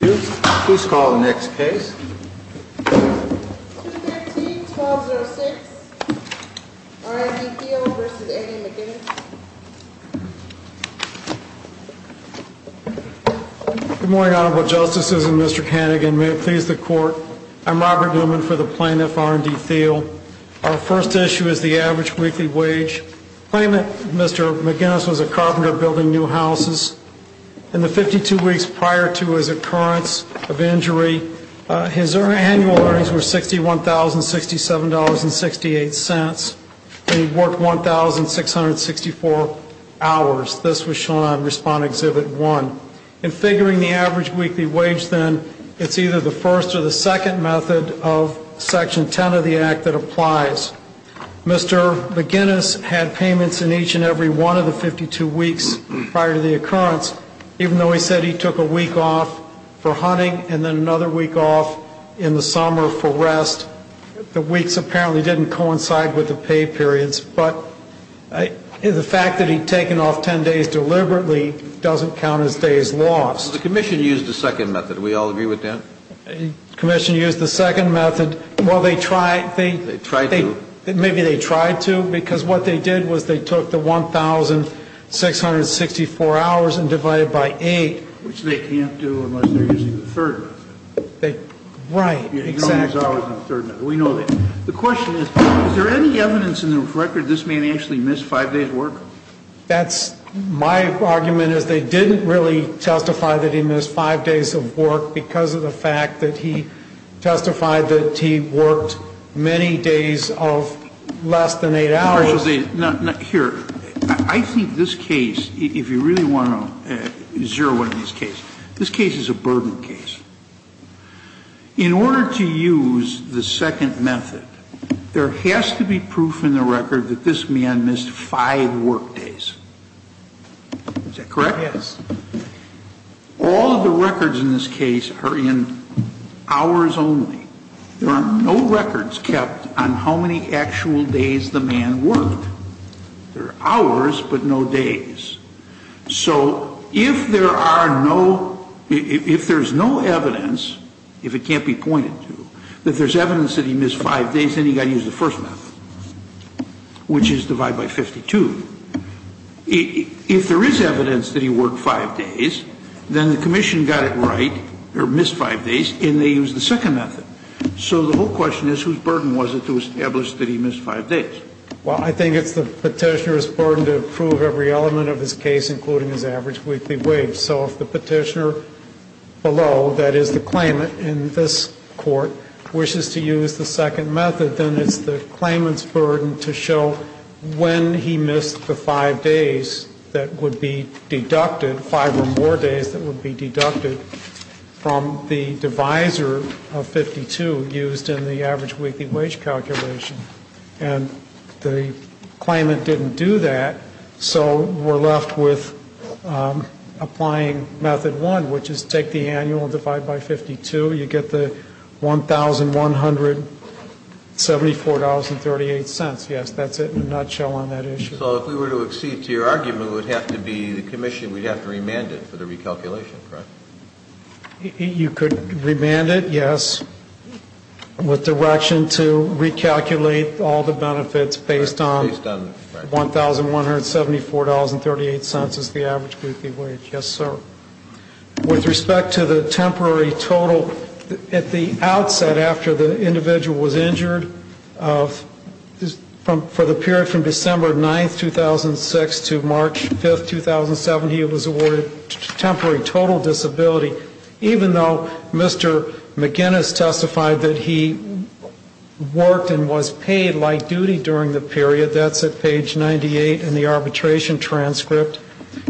Please call the next case. 215-1206 R & D Thiel v. Eddie McGinnis Good morning, Honorable Justices and Mr. Kanigan. May it please the Court, I'm Robert Newman for the plaintiff, R & D Thiel. Our first issue is the average weekly wage. Claimant, Mr. McGinnis, was a carpenter building new houses. In the 52 weeks prior to his occurrence of injury, his annual earnings were $61,067.68, and he worked 1,664 hours. This was shown on Respond-Exhibit 1. In figuring the average weekly wage, then, it's either the first or the second method of Section 10 of the Act that applies. Mr. McGinnis had payments in each and every one of the 52 weeks prior to the occurrence, even though he said he took a week off for hunting and then another week off in the summer for rest. The weeks apparently didn't coincide with the pay periods, but the fact that he'd taken off 10 days deliberately doesn't count as days lost. The Commission used the second method. Do we all agree with that? The Commission used the second method. Well, they tried. They tried to. Maybe they tried to, because what they did was they took the 1,664 hours and divided it by 8. Which they can't do unless they're using the third method. Right, exactly. We know that. The question is, is there any evidence in the record that this man actually missed five days' work? My argument is they didn't really testify that he missed five days of work because of the fact that he testified that he worked many days of less than eight hours. Here, I think this case, if you really want to zero in on this case, this case is a burden case. In order to use the second method, there has to be proof in the record that this man missed five work days. Is that correct? Yes. All of the records in this case are in hours only. There are no records kept on how many actual days the man worked. There are hours, but no days. So if there are no, if there's no evidence, if it can't be pointed to, that there's evidence that he missed five days, then you've got to use the first method, which is divide by 52. If there is evidence that he worked five days, then the commission got it right, or missed five days, and they used the second method. So the whole question is, whose burden was it to establish that he missed five days? Well, I think it's the petitioner's burden to prove every element of his case, including his average weekly wage. So if the petitioner below, that is the claimant in this court, wishes to use the second method, then it's the claimant's burden to show when he missed the five days that would be deducted, five or more days that would be deducted from the divisor of 52 used in the average weekly wage calculation. And the claimant didn't do that, so we're left with applying method one, which is take the annual and divide by 52. You get the $1,174.38. Yes, that's it in a nutshell on that issue. So if we were to accede to your argument, it would have to be the commission would have to remand it for the recalculation, correct? You could remand it, yes. With direction to recalculate all the benefits based on $1,174.38 is the average weekly wage, yes, sir. With respect to the temporary total, at the outset after the individual was injured, for the period from December 9, 2006 to March 5, 2007, he was awarded temporary total disability, even though Mr. McGinnis testified that he worked and was paid light duty during the period. That's at page 98 in the arbitration transcript.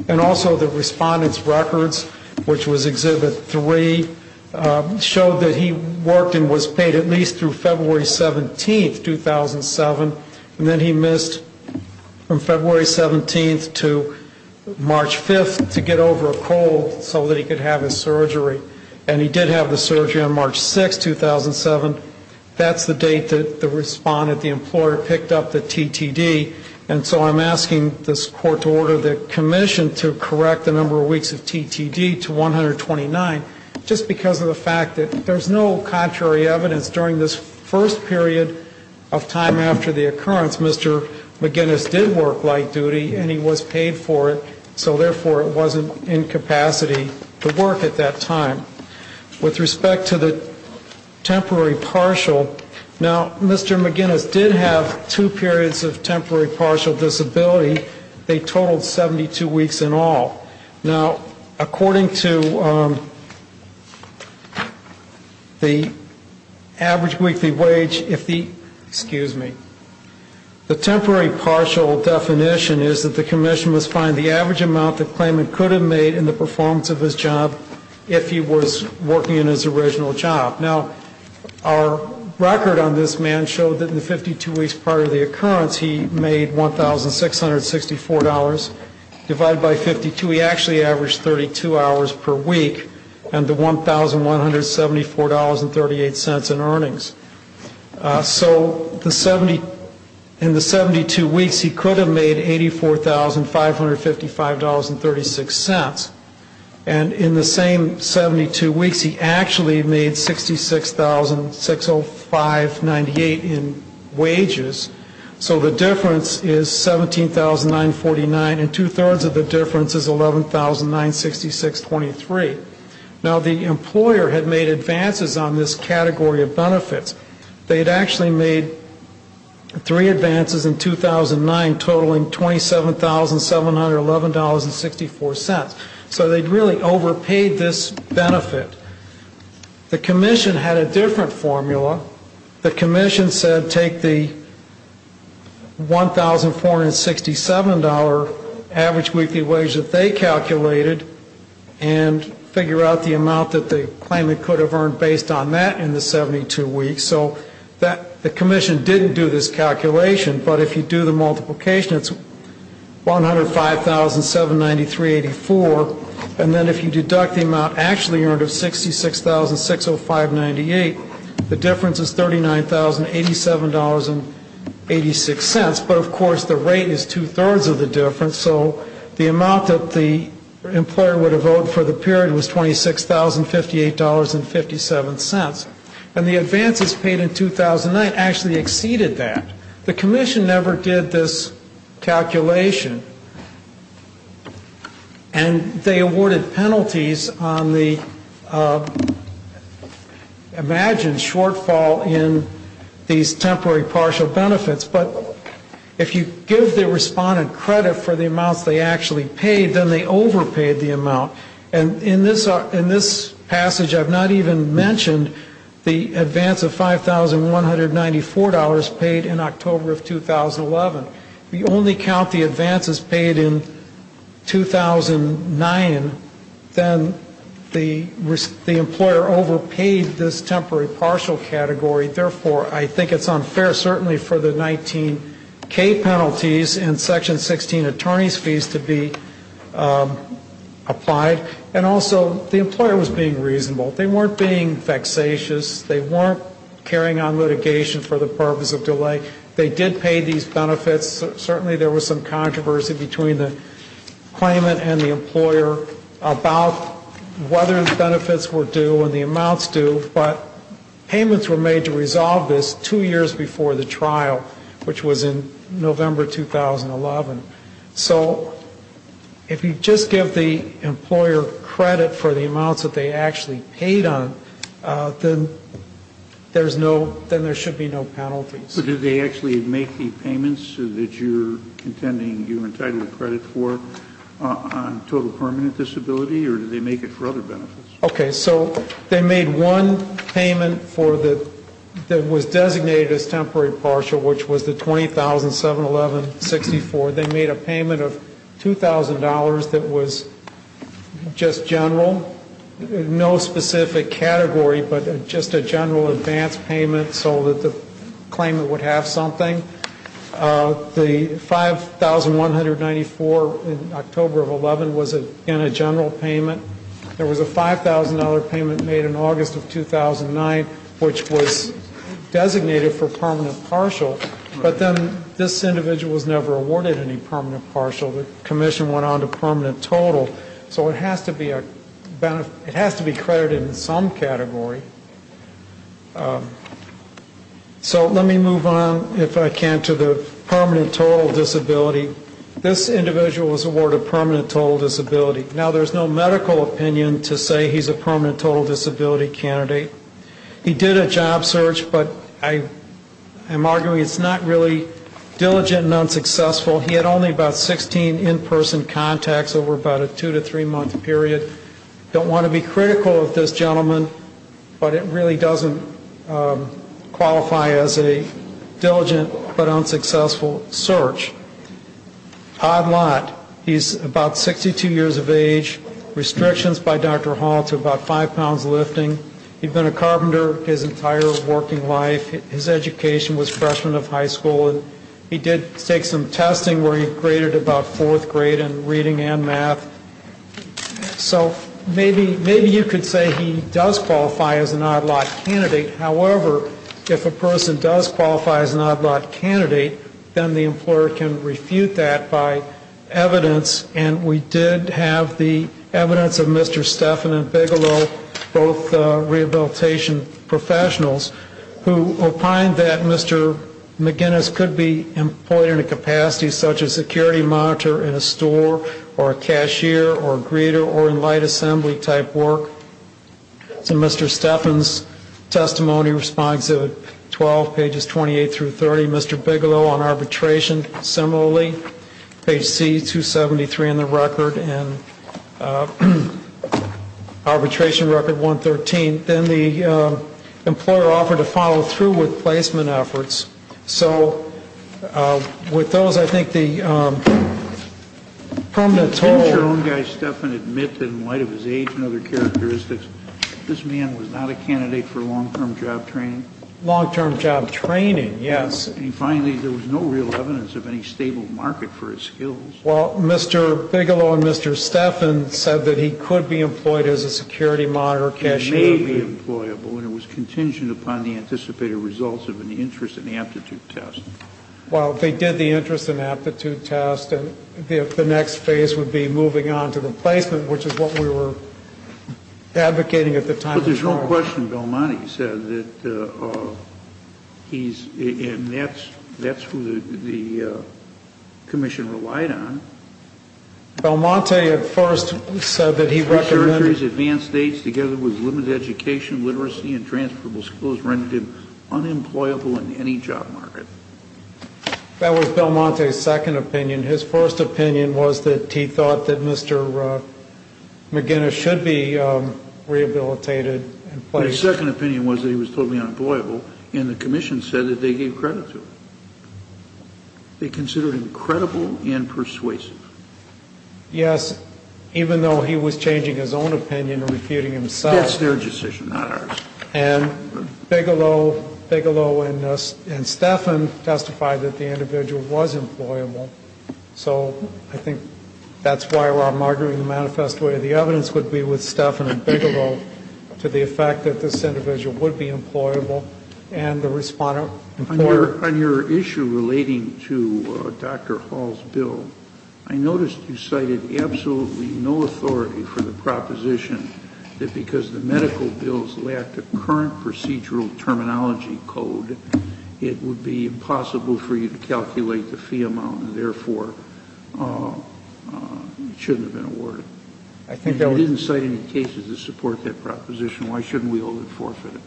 And also the respondent's records, which was exhibit three, showed that he worked and was paid at least through February 17, 2007, and then he missed from February 17 to March 5 to get over a cold so that he could have his surgery. And he did have the surgery on March 6, 2007. That's the date that the respondent, the employer, picked up the TTD. And so I'm asking this court to order the commission to correct the number of weeks of TTD to 129, just because of the fact that there's no contrary evidence during this first period of time after the occurrence. Mr. McGinnis did work light duty, and he was paid for it, so therefore it wasn't in capacity to work at that time. With respect to the temporary partial, now, Mr. McGinnis did have two periods of temporary partial disability. They totaled 72 weeks in all. Now, according to the average weekly wage, if the, excuse me, the temporary partial definition is that the commission must find the average amount the claimant could have made in the performance of his job if he was working in his original job. Now, our record on this man showed that in the 52 weeks prior to the occurrence, he made $1,664 divided by 52. He actually averaged 32 hours per week and the $1,174.38 in earnings. So in the 72 weeks, he could have made $84,555.36. And in the same 72 weeks, he actually made $66,605.98 in wages. So the difference is $17,949, and two-thirds of the difference is $11,966.23. Now, the employer had made advances on this category of benefits. They had actually made three advances in 2009 totaling $27,711.64. So they'd really overpaid this benefit. The commission had a different formula. The commission said take the $1,467 average weekly wage that they calculated and figure out the amount that the claimant could have earned based on that in the 72 weeks. So the commission didn't do this calculation. But if you do the multiplication, it's $105,793.84. And then if you deduct the amount actually earned of $66,605.98, the difference is $39,087.86. But, of course, the rate is two-thirds of the difference. So the amount that the employer would have owed for the period was $26,058.57. And the advances paid in 2009 actually exceeded that. The commission never did this calculation. And they awarded penalties on the imagined shortfall in these temporary partial benefits. But if you give the respondent credit for the amounts they actually paid, then they overpaid the amount. And in this passage, I've not even mentioned the advance of $5,194 paid in October of 2011. If you only count the advances paid in 2009, then the employer overpaid this temporary partial category. Therefore, I think it's unfair certainly for the 19K penalties and Section 16 attorney's fees to be applied. And also, the employer was being reasonable. They weren't being vexatious. They weren't carrying on litigation for the purpose of delay. They did pay these benefits. Certainly, there was some controversy between the claimant and the employer about whether the benefits were due and the amounts due, but payments were made to resolve this two years before the trial, which was in November 2011. So if you just give the employer credit for the amounts that they actually paid on, then there's no, then there should be no penalties. So did they actually make the payments that you're contending you're entitled to credit for on total permanent disability, or did they make it for other benefits? Okay, so they made one payment for the, that was designated as temporary partial, which was the $20,711.64. They made a payment of $2,000 that was just general, no specific category, but just a general advance payment so that the claimant would have something. The $5,194 in October of 11 was, again, a general payment. There was a $5,000 payment made in August of 2009, which was designated for permanent partial. But then this individual was never awarded any permanent partial. The commission went on to permanent total. So it has to be a benefit, it has to be credited in some category. So let me move on, if I can, to the permanent total disability. This individual was awarded permanent total disability. Now, there's no medical opinion to say he's a permanent total disability candidate. He did a job search, but I am arguing it's not really diligent and unsuccessful. He had only about 16 in-person contacts over about a two- to three-month period. Don't want to be critical of this gentleman, but it really doesn't qualify as a diligent but unsuccessful search. Odd lot, he's about 62 years of age, restrictions by Dr. Hall to about five pounds lifting. He'd been a carpenter his entire working life. His education was freshman of high school. And he did take some testing where he graded about fourth grade in reading and math. So maybe you could say he does qualify as an odd lot candidate. However, if a person does qualify as an odd lot candidate, then the employer can refute that by evidence. And we did have the evidence of Mr. Stephan and Bigelow, both rehabilitation professionals, who opined that Mr. McGinnis could be employed in a capacity such as security monitor in a store or a cashier or greeter or in light assembly type work. So Mr. Stephan's testimony responds to 12, pages 28 through 30. Mr. Bigelow on arbitration, similarly, page C, 273 in the record and arbitration record 113. Then the employer offered to follow through with placement efforts. So with those, I think the permanent toll. Did your own guy, Stephan, admit in light of his age and other characteristics, this man was not a candidate for long-term job training? Long-term job training, yes. And finally, there was no real evidence of any stable market for his skills. Well, Mr. Bigelow and Mr. Stephan said that he could be employed as a security monitor, cashier. Which may be employable, and it was contingent upon the anticipated results of an interest and aptitude test. Well, they did the interest and aptitude test, and the next phase would be moving on to the placement, which is what we were advocating at the time. But there's no question Belmonte said that he's, and that's who the commission relied on. Belmonte at first said that he recommended. The country's advanced states together with limited education, literacy, and transferable skills rendered him unemployable in any job market. That was Belmonte's second opinion. His first opinion was that he thought that Mr. McGinnis should be rehabilitated and placed. His second opinion was that he was totally unemployable, and the commission said that they gave credit to him. They considered him credible and persuasive. Yes, even though he was changing his own opinion and refuting himself. That's their decision, not ours. And Bigelow and Stephan testified that the individual was employable. So I think that's why we're arguing the manifest way. The evidence would be with Stephan and Bigelow to the effect that this individual would be employable. On your issue relating to Dr. Hall's bill, I noticed you cited absolutely no authority for the proposition that because the medical bills lacked a current procedural terminology code, it would be impossible for you to calculate the fee amount and, therefore, it shouldn't have been awarded. You didn't cite any cases that support that proposition. Why shouldn't we hold it forfeited?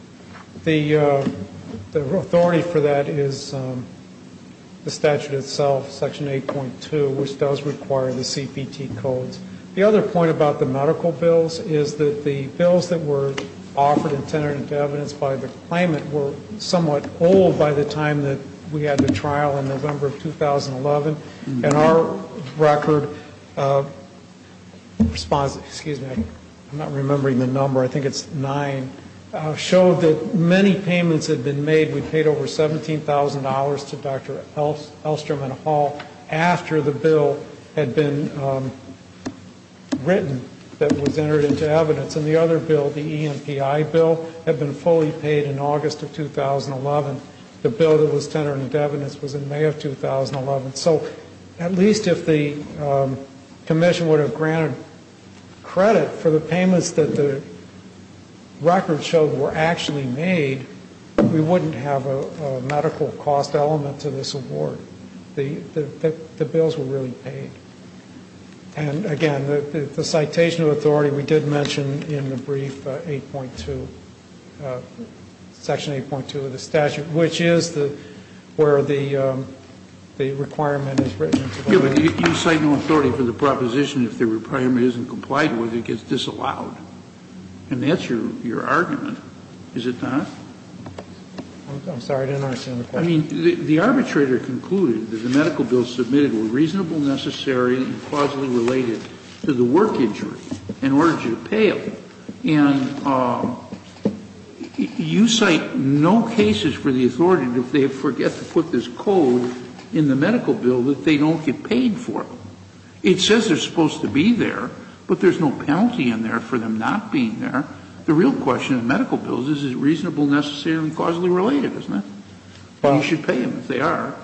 The authority for that is the statute itself, Section 8.2, which does require the CPT codes. The other point about the medical bills is that the bills that were offered intended to evidence by the claimant were somewhat old by the time that we had the trial in November of 2011. And our record responds, excuse me, I'm not remembering the number, I think it's nine, showed that many payments had been made. We paid over $17,000 to Dr. Elstrom and Hall after the bill had been written that was entered into evidence. And the other bill, the EMPI bill, had been fully paid in August of 2011. The bill that was entered into evidence was in May of 2011. So at least if the commission would have granted credit for the payments that the record showed were actually made, we wouldn't have a medical cost element to this award. The bills were really paid. And, again, the citation of authority we did mention in the brief 8.2, Section 8.2 of the statute, which is where the requirement is written. You cite no authority for the proposition if the requirement isn't complied with, it gets disallowed. And that's your argument, is it not? I'm sorry, I didn't understand the question. I mean, the arbitrator concluded that the medical bills submitted were reasonable, necessary, and plausibly related to the work injury in order to pay it. And you cite no cases for the authority if they forget to put this code in the medical bill that they don't get paid for it. It says they're supposed to be there, but there's no penalty in there for them not being there. The real question in medical bills is, is it reasonable, necessary, and causally related, isn't it? You should pay them if they are.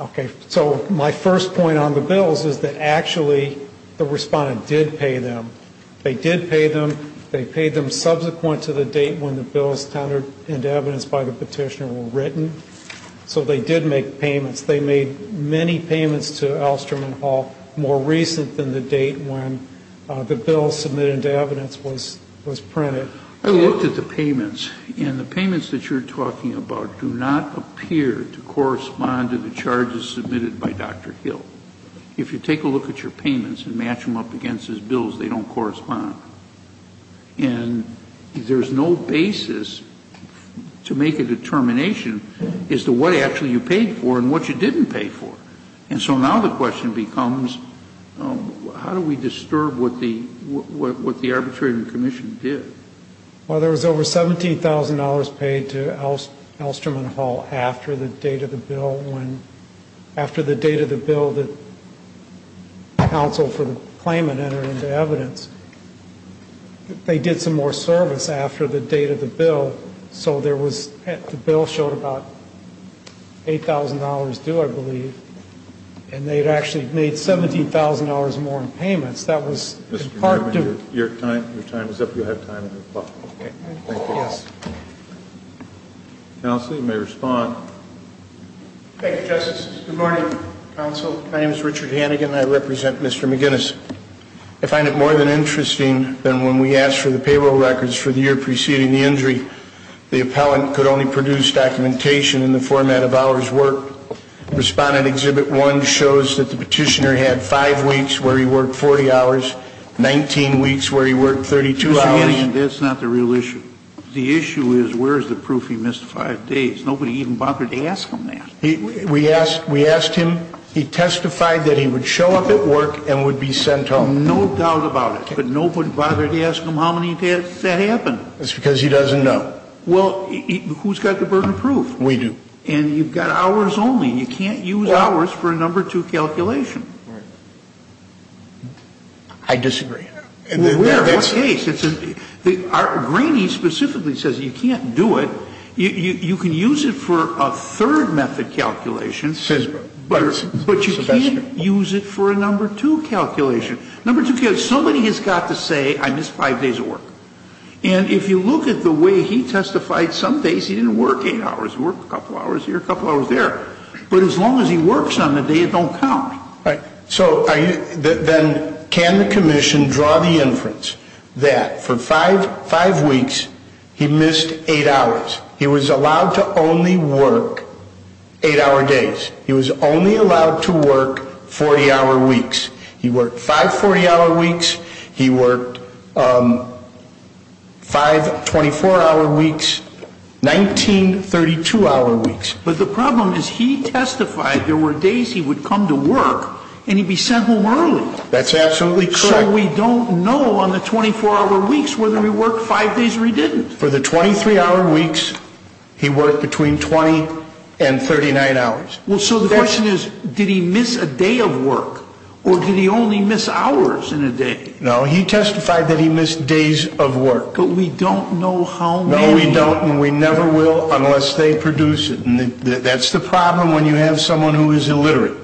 Okay. So my first point on the bills is that actually the Respondent did pay them. They did pay them. They paid them subsequent to the date when the bills tendered into evidence by the petitioner were written. So they did make payments. They made many payments to Alstrom and Hall more recent than the date when the bill submitted into evidence was printed. I looked at the payments, and the payments that you're talking about do not appear to correspond to the charges submitted by Dr. Hill. If you take a look at your payments and match them up against his bills, they don't correspond. And there's no basis to make a determination as to what actually you paid for and what you didn't pay for. And so now the question becomes, how do we disturb what the arbitration commission did? Well, there was over $17,000 paid to Alstrom and Hall after the date of the bill, after the date of the bill that counsel for the claimant entered into evidence. They did some more service after the date of the bill, so the bill showed about $8,000 due, I believe, and they had actually made $17,000 more in payments. Mr. Newman, your time is up. You'll have time in your clock. Thank you. Counsel, you may respond. Thank you, Justice. Good morning, counsel. My name is Richard Hannigan, and I represent Mr. McGinnis. I find it more than interesting that when we asked for the payroll records for the year preceding the injury, the appellant could only produce documentation in the format of hours worked. Respondent Exhibit 1 shows that the petitioner had five weeks where he worked 40 hours, 19 weeks where he worked 32 hours. Mr. Hannigan, that's not the real issue. The issue is where is the proof he missed five days? Nobody even bothered to ask him that. We asked him. He testified that he would show up at work and would be sent home. No doubt about it, but nobody bothered to ask him how many days that happened. That's because he doesn't know. Well, who's got the burden of proof? We do. And you've got hours only. You can't use hours for a number two calculation. Right. I disagree. Well, where? In what case? Greeney specifically says you can't do it. You can use it for a third method calculation. But you can't use it for a number two calculation. Number two calculation. Somebody has got to say I missed five days of work. And if you look at the way he testified, some days he didn't work eight hours. He worked a couple hours here, a couple hours there. But as long as he works on the day, it don't count. Right. So then can the commission draw the inference that for five weeks he missed eight hours? He was allowed to only work eight-hour days. He was only allowed to work 40-hour weeks. He worked five 40-hour weeks. He worked five 24-hour weeks, 19 32-hour weeks. But the problem is he testified there were days he would come to work and he'd be sent home early. That's absolutely correct. So we don't know on the 24-hour weeks whether he worked five days or he didn't. For the 23-hour weeks, he worked between 20 and 39 hours. Well, so the question is, did he miss a day of work or did he only miss hours in a day? No. He testified that he missed days of work. But we don't know how many. No, we don't. And we never will unless they produce it. And that's the problem when you have someone who is illiterate.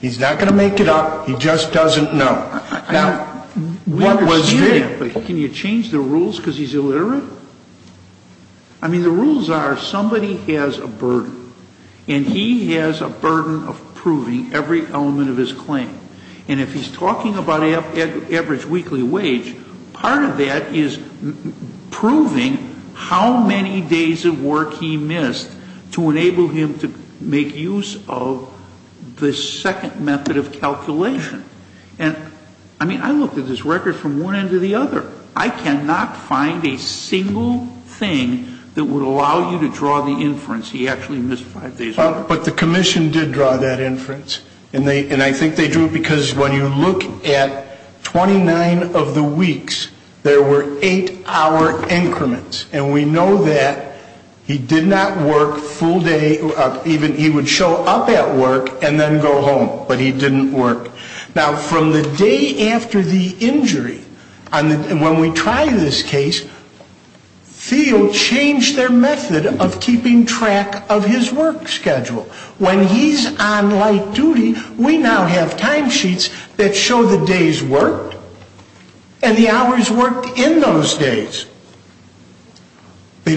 He's not going to make it up. He just doesn't know. Now, we understand that, but can you change the rules because he's illiterate? I mean, the rules are somebody has a burden. And he has a burden of proving every element of his claim. And if he's talking about average weekly wage, part of that is proving how many days of work he missed to enable him to make use of the second method of calculation. And, I mean, I looked at this record from one end to the other. I cannot find a single thing that would allow you to draw the inference he actually missed five days of work. But the commission did draw that inference. And I think they drew it because when you look at 29 of the weeks, there were eight-hour increments. And we know that he did not work full day. He would show up at work and then go home. But he didn't work. Now, from the day after the injury, when we try this case, field changed their method of keeping track of his work schedule. When he's on light duty, we now have timesheets that show the days worked and the hours worked in those days. We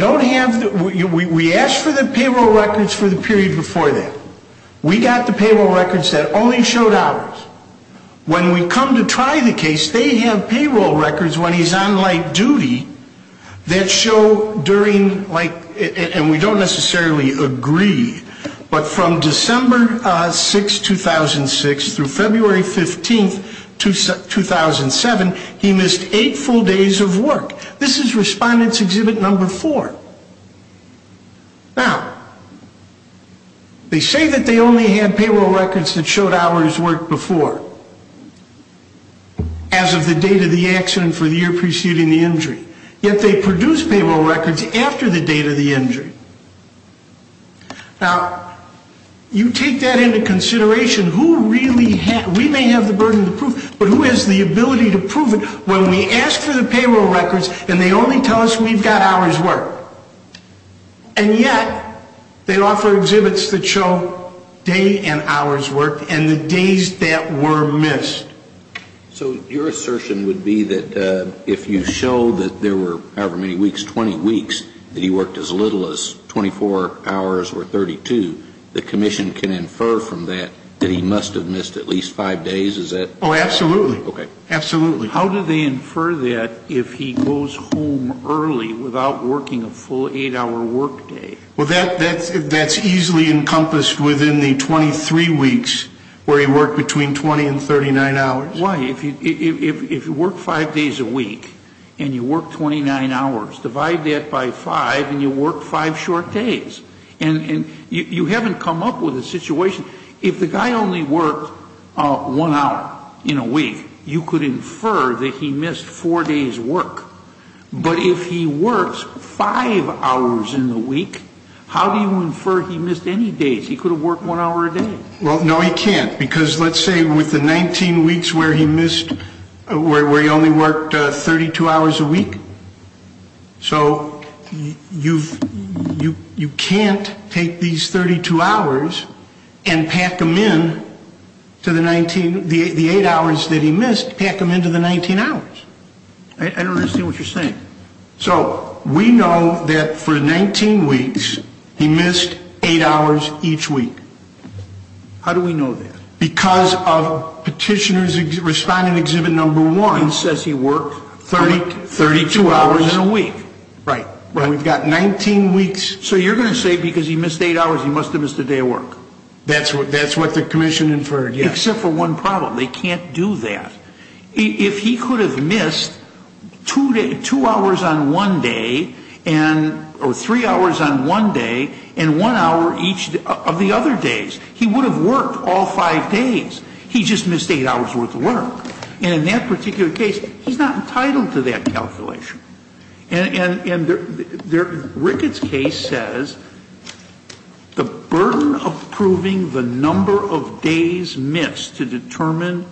asked for the payroll records for the period before that. We got the payroll records that only showed hours. When we come to try the case, they have payroll records when he's on light duty that show during, like, and we don't necessarily agree, but from December 6, 2006 through February 15, 2007, he missed eight full days of work. This is Respondent's Exhibit No. 4. Now, they say that they only had payroll records that showed hours worked before, as of the date of the accident for the year preceding the injury. Yet they produced payroll records after the date of the injury. Now, you take that into consideration. We may have the burden of proof, but who has the ability to prove it when we ask for the payroll records and they only tell us we've got hours worked? And yet they offer exhibits that show day and hours worked and the days that were missed. So your assertion would be that if you show that there were however many weeks, 20 weeks, that he worked as little as 24 hours or 32, the commission can infer from that that he must have missed at least five days? Is that? Oh, absolutely. Okay. Absolutely. How do they infer that if he goes home early without working a full eight-hour workday? Well, that's easily encompassed within the 23 weeks where he worked between 20 and 39 hours. Why? If you work five days a week and you work 29 hours, divide that by five and you work five short days. And you haven't come up with a situation. If the guy only worked one hour in a week, you could infer that he missed four days' work. But if he works five hours in a week, how do you infer he missed any days? He could have worked one hour a day. Well, no, he can't. Because let's say with the 19 weeks where he missed, where he only worked 32 hours a week. So you can't take these 32 hours and pack them in to the 19, the eight hours that he missed, pack them into the 19 hours. I don't understand what you're saying. So we know that for 19 weeks, he missed eight hours each week. How do we know that? Because of Petitioner's Respondent Exhibit Number 1. It says he worked 32 hours. Eight hours in a week. Right. We've got 19 weeks. So you're going to say because he missed eight hours, he must have missed a day of work. That's what the commission inferred, yes. Except for one problem. They can't do that. If he could have missed two hours on one day or three hours on one day and one hour each of the other days, he would have worked all five days. He just missed eight hours' worth of work. And in that particular case, he's not entitled to that calculation. And Ricketts' case says the burden of proving the number of days missed to determine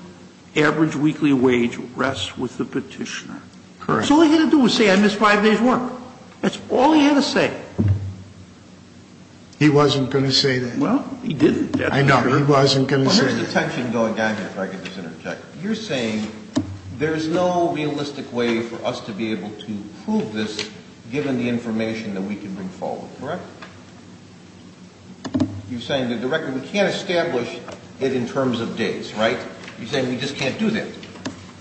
average weekly wage rests with the Petitioner. Correct. So all he had to do was say I missed five days' work. That's all he had to say. He wasn't going to say that. I know. He wasn't going to say that. Well, here's the tension going down here, if I could just interject. You're saying there's no realistic way for us to be able to prove this, given the information that we can bring forward. Correct? You're saying that the record, we can't establish it in terms of days. Right? You're saying we just can't do that.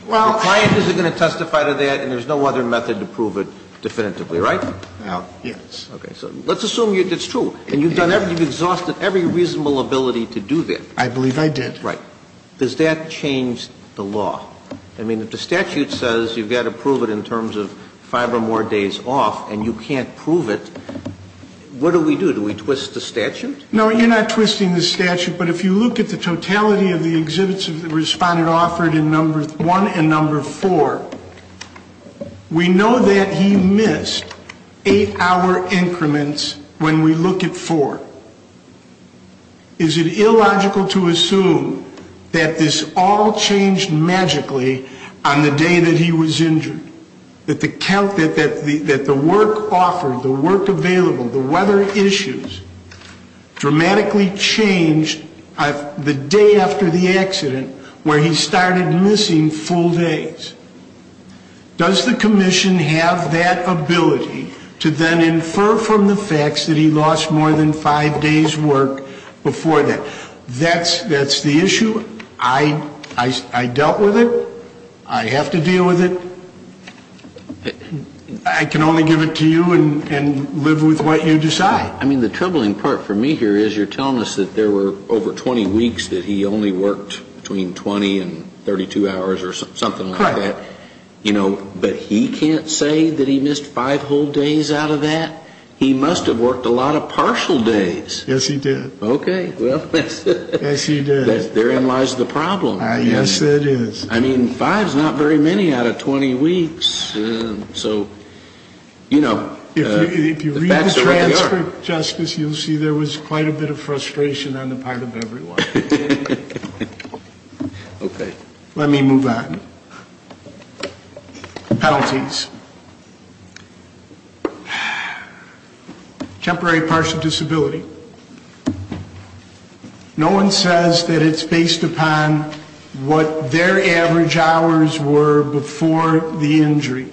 Well, I... The client isn't going to testify to that, and there's no other method to prove it definitively. Right? Yes. Okay. So let's assume it's true. And you've exhausted every reasonable ability to do that. I believe I did. Right. Does that change the law? I mean, if the statute says you've got to prove it in terms of five or more days off, and you can't prove it, what do we do? Do we twist the statute? No, you're not twisting the statute. But if you look at the totality of the exhibits the Respondent offered in number one and number four, we know that he missed eight-hour increments when we look at four. Is it illogical to assume that this all changed magically on the day that he was injured, that the work offered, the work available, the weather issues, dramatically changed the day after the accident where he started missing full days? Does the commission have that ability to then infer from the facts that he lost more than five days' work before that? That's the issue. I dealt with it. I have to deal with it. I can only give it to you and live with what you decide. I mean, the troubling part for me here is you're telling us that there were over 20 weeks that he only worked between 20 and 32 hours or something like that. You know, but he can't say that he missed five whole days out of that. He must have worked a lot of partial days. Yes, he did. Okay. Well, that's it. Yes, he did. Therein lies the problem. Yes, it is. I mean, five is not very many out of 20 weeks. So, you know, the facts are what they are. If you read the transcript, Justice, you'll see there was quite a bit of frustration on the part of everyone. Okay. Let me move on. Penalties. Temporary partial disability. No one says that it's based upon what their average hours were before the injury.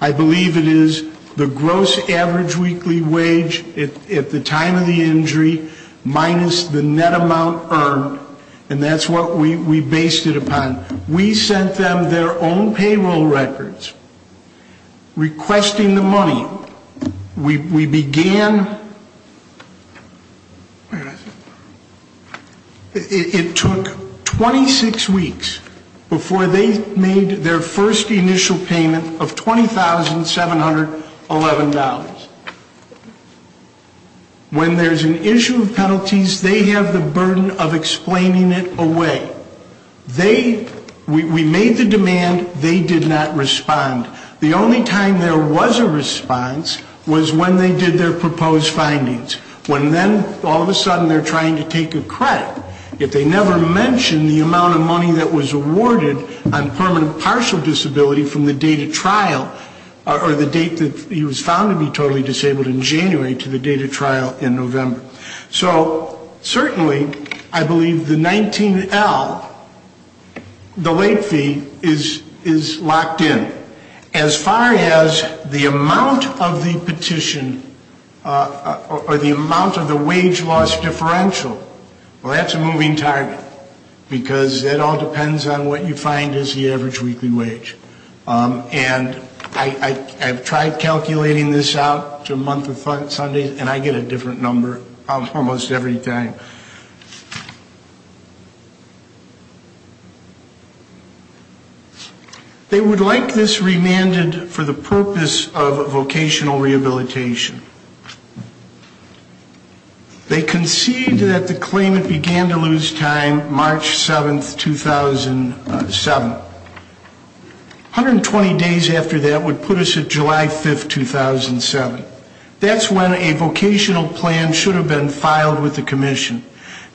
I believe it is the gross average weekly wage at the time of the injury minus the net amount earned. And that's what we based it upon. We sent them their own payroll records requesting the money. We began. It took 26 weeks before they made their first initial payment of $20,711. When there's an issue of penalties, they have the burden of explaining it away. We made the demand. They did not respond. The only time there was a response was when they did their proposed findings. When then all of a sudden they're trying to take a credit. If they never mention the amount of money that was awarded on permanent partial disability from the date of trial or the date that he was found to be totally disabled in January to the date of trial in November. So certainly I believe the 19L, the late fee, is locked in. As far as the amount of the petition or the amount of the wage loss differential, well, that's a moving target. Because that all depends on what you find as the average weekly wage. And I've tried calculating this out to a month of Sundays, and I get a different number almost every time. They would like this remanded for the purpose of vocational rehabilitation. They concede that the claimant began to lose time March 7th, 2007. 120 days after that would put us at July 5th, 2007. That's when a vocational plan should have been filed with the commission.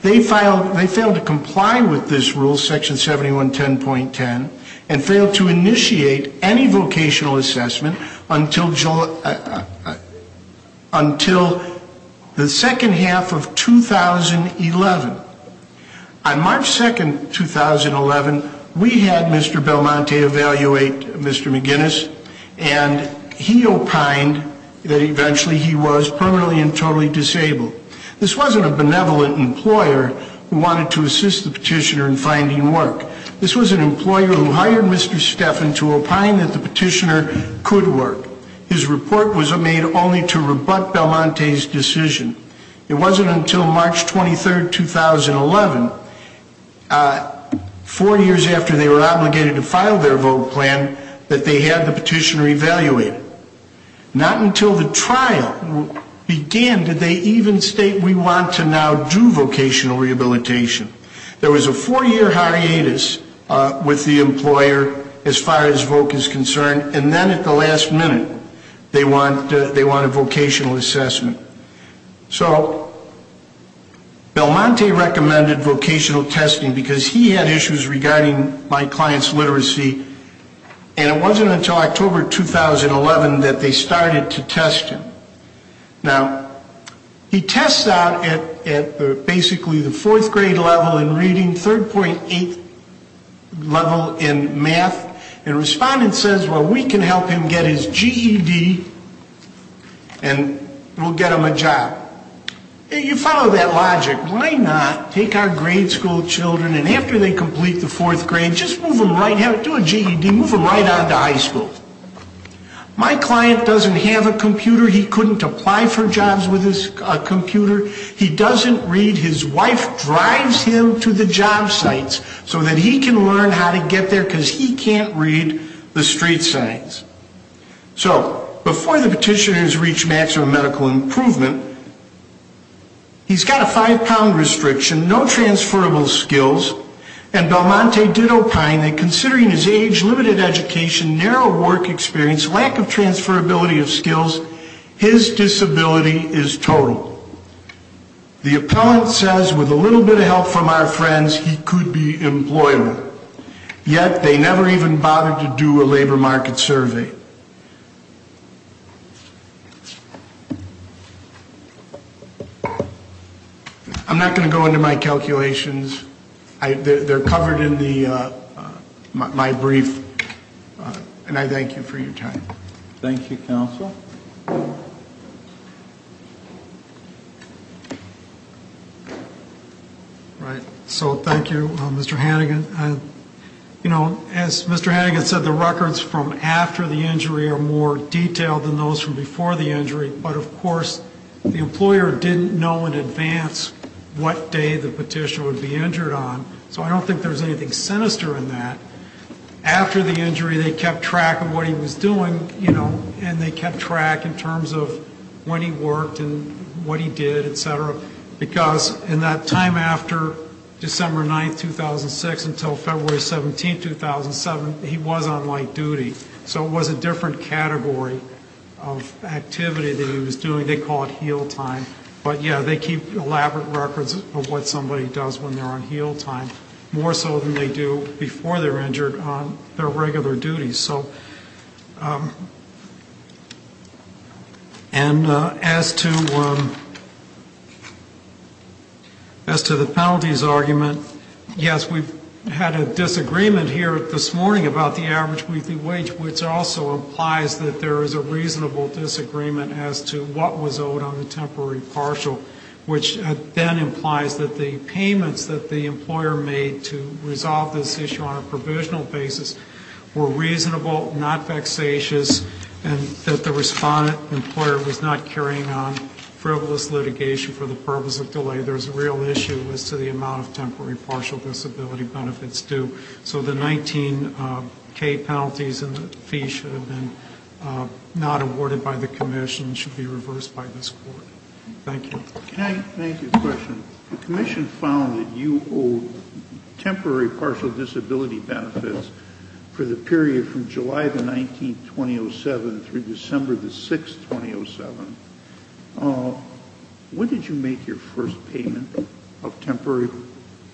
They failed to comply with this rule, section 7110.10, and failed to initiate any vocational assessment until July 7th, 2007. Until the second half of 2011. On March 2nd, 2011, we had Mr. Belmonte evaluate Mr. McGinnis, and he opined that eventually he was permanently and totally disabled. This wasn't a benevolent employer who wanted to assist the petitioner in finding work. This was an employer who hired Mr. Stephan to opine that the petitioner could work. His report was made only to rebut Belmonte's decision. It wasn't until March 23rd, 2011, four years after they were obligated to file their vote plan, that they had the petitioner evaluated. Not until the trial began did they even state, we want to now do vocational rehabilitation. There was a four-year hiatus with the employer as far as VOC is concerned, and then at the last minute, they want a vocational assessment. So Belmonte recommended vocational testing because he had issues regarding my client's literacy, and it wasn't until October 2011 that they started to test him. Now, he tests out at basically the fourth grade level in reading, 3rd.8th level in math, and Respondent says, well, we can help him get his GED and we'll get him a job. You follow that logic. Why not take our grade school children, and after they complete the fourth grade, just move them right, do a GED, move them right on to high school. My client doesn't have a computer. He couldn't apply for jobs with a computer. He doesn't read. His wife drives him to the job sites so that he can learn how to get there because he can't read the street signs. So before the petitioners reach maximum medical improvement, he's got a five-pound restriction, no transferable skills, and Belmonte did opine that considering his age, limited education, narrow work experience, lack of transferability of skills, his disability is total. The appellant says with a little bit of help from our friends, he could be employable, yet they never even bothered to do a labor market survey. I'm not going to go into my calculations. They're covered in my brief, and I thank you for your time. Thank you, counsel. All right. So thank you, Mr. Hannigan. You know, as Mr. Hannigan said, the records from after the injury are more detailed than those from before the injury, but, of course, the employer didn't know in advance what day the petitioner would be injured on, so I don't think there's anything sinister in that. After the injury, they kept track of what he was doing, you know, and they kept track in terms of when he worked and what he did, et cetera, because in that time after December 9th, 2006 until February 17th, 2007, he was on light duty. So it was a different category of activity that he was doing. They call it heal time. But, yeah, they keep elaborate records of what somebody does when they're on heal time, more so than they do before they're injured on their regular duties. So and as to the penalties argument, yes, we've had a disagreement here this morning about the average weekly wage, which also implies that there is a reasonable disagreement as to what was owed on the temporary partial, which then implies that the payments that the employer made to resolve this issue on a provisional basis were reasonable, not vexatious, and that the respondent employer was not carrying on frivolous litigation for the purpose of delay. There's a real issue as to the amount of temporary partial disability benefits due. So the 19K penalties and the fee should have been not awarded by the commission, should be reversed by this court. Thank you. Can I make a question? The commission found that you owe temporary partial disability benefits for the period from July the 19th, 2007, through December the 6th, 2007. When did you make your first payment of temporary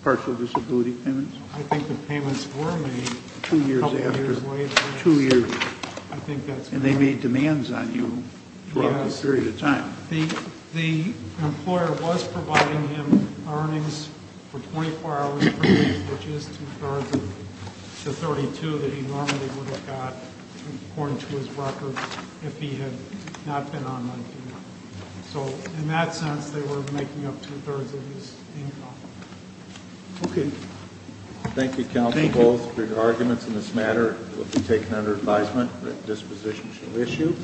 partial disability payments? I think the payments were made a couple years later. Two years after? Two years. I think that's correct. And they made demands on you throughout that period of time. Yes. The employer was providing him earnings for 24 hours per week, which is two-thirds of the 32 that he normally would have got, according to his record, if he had not been on 19K. So in that sense, they were making up two-thirds of his income. Okay. Thank you, counsel. Both arguments in this matter will be taken under advisement. This position shall issue.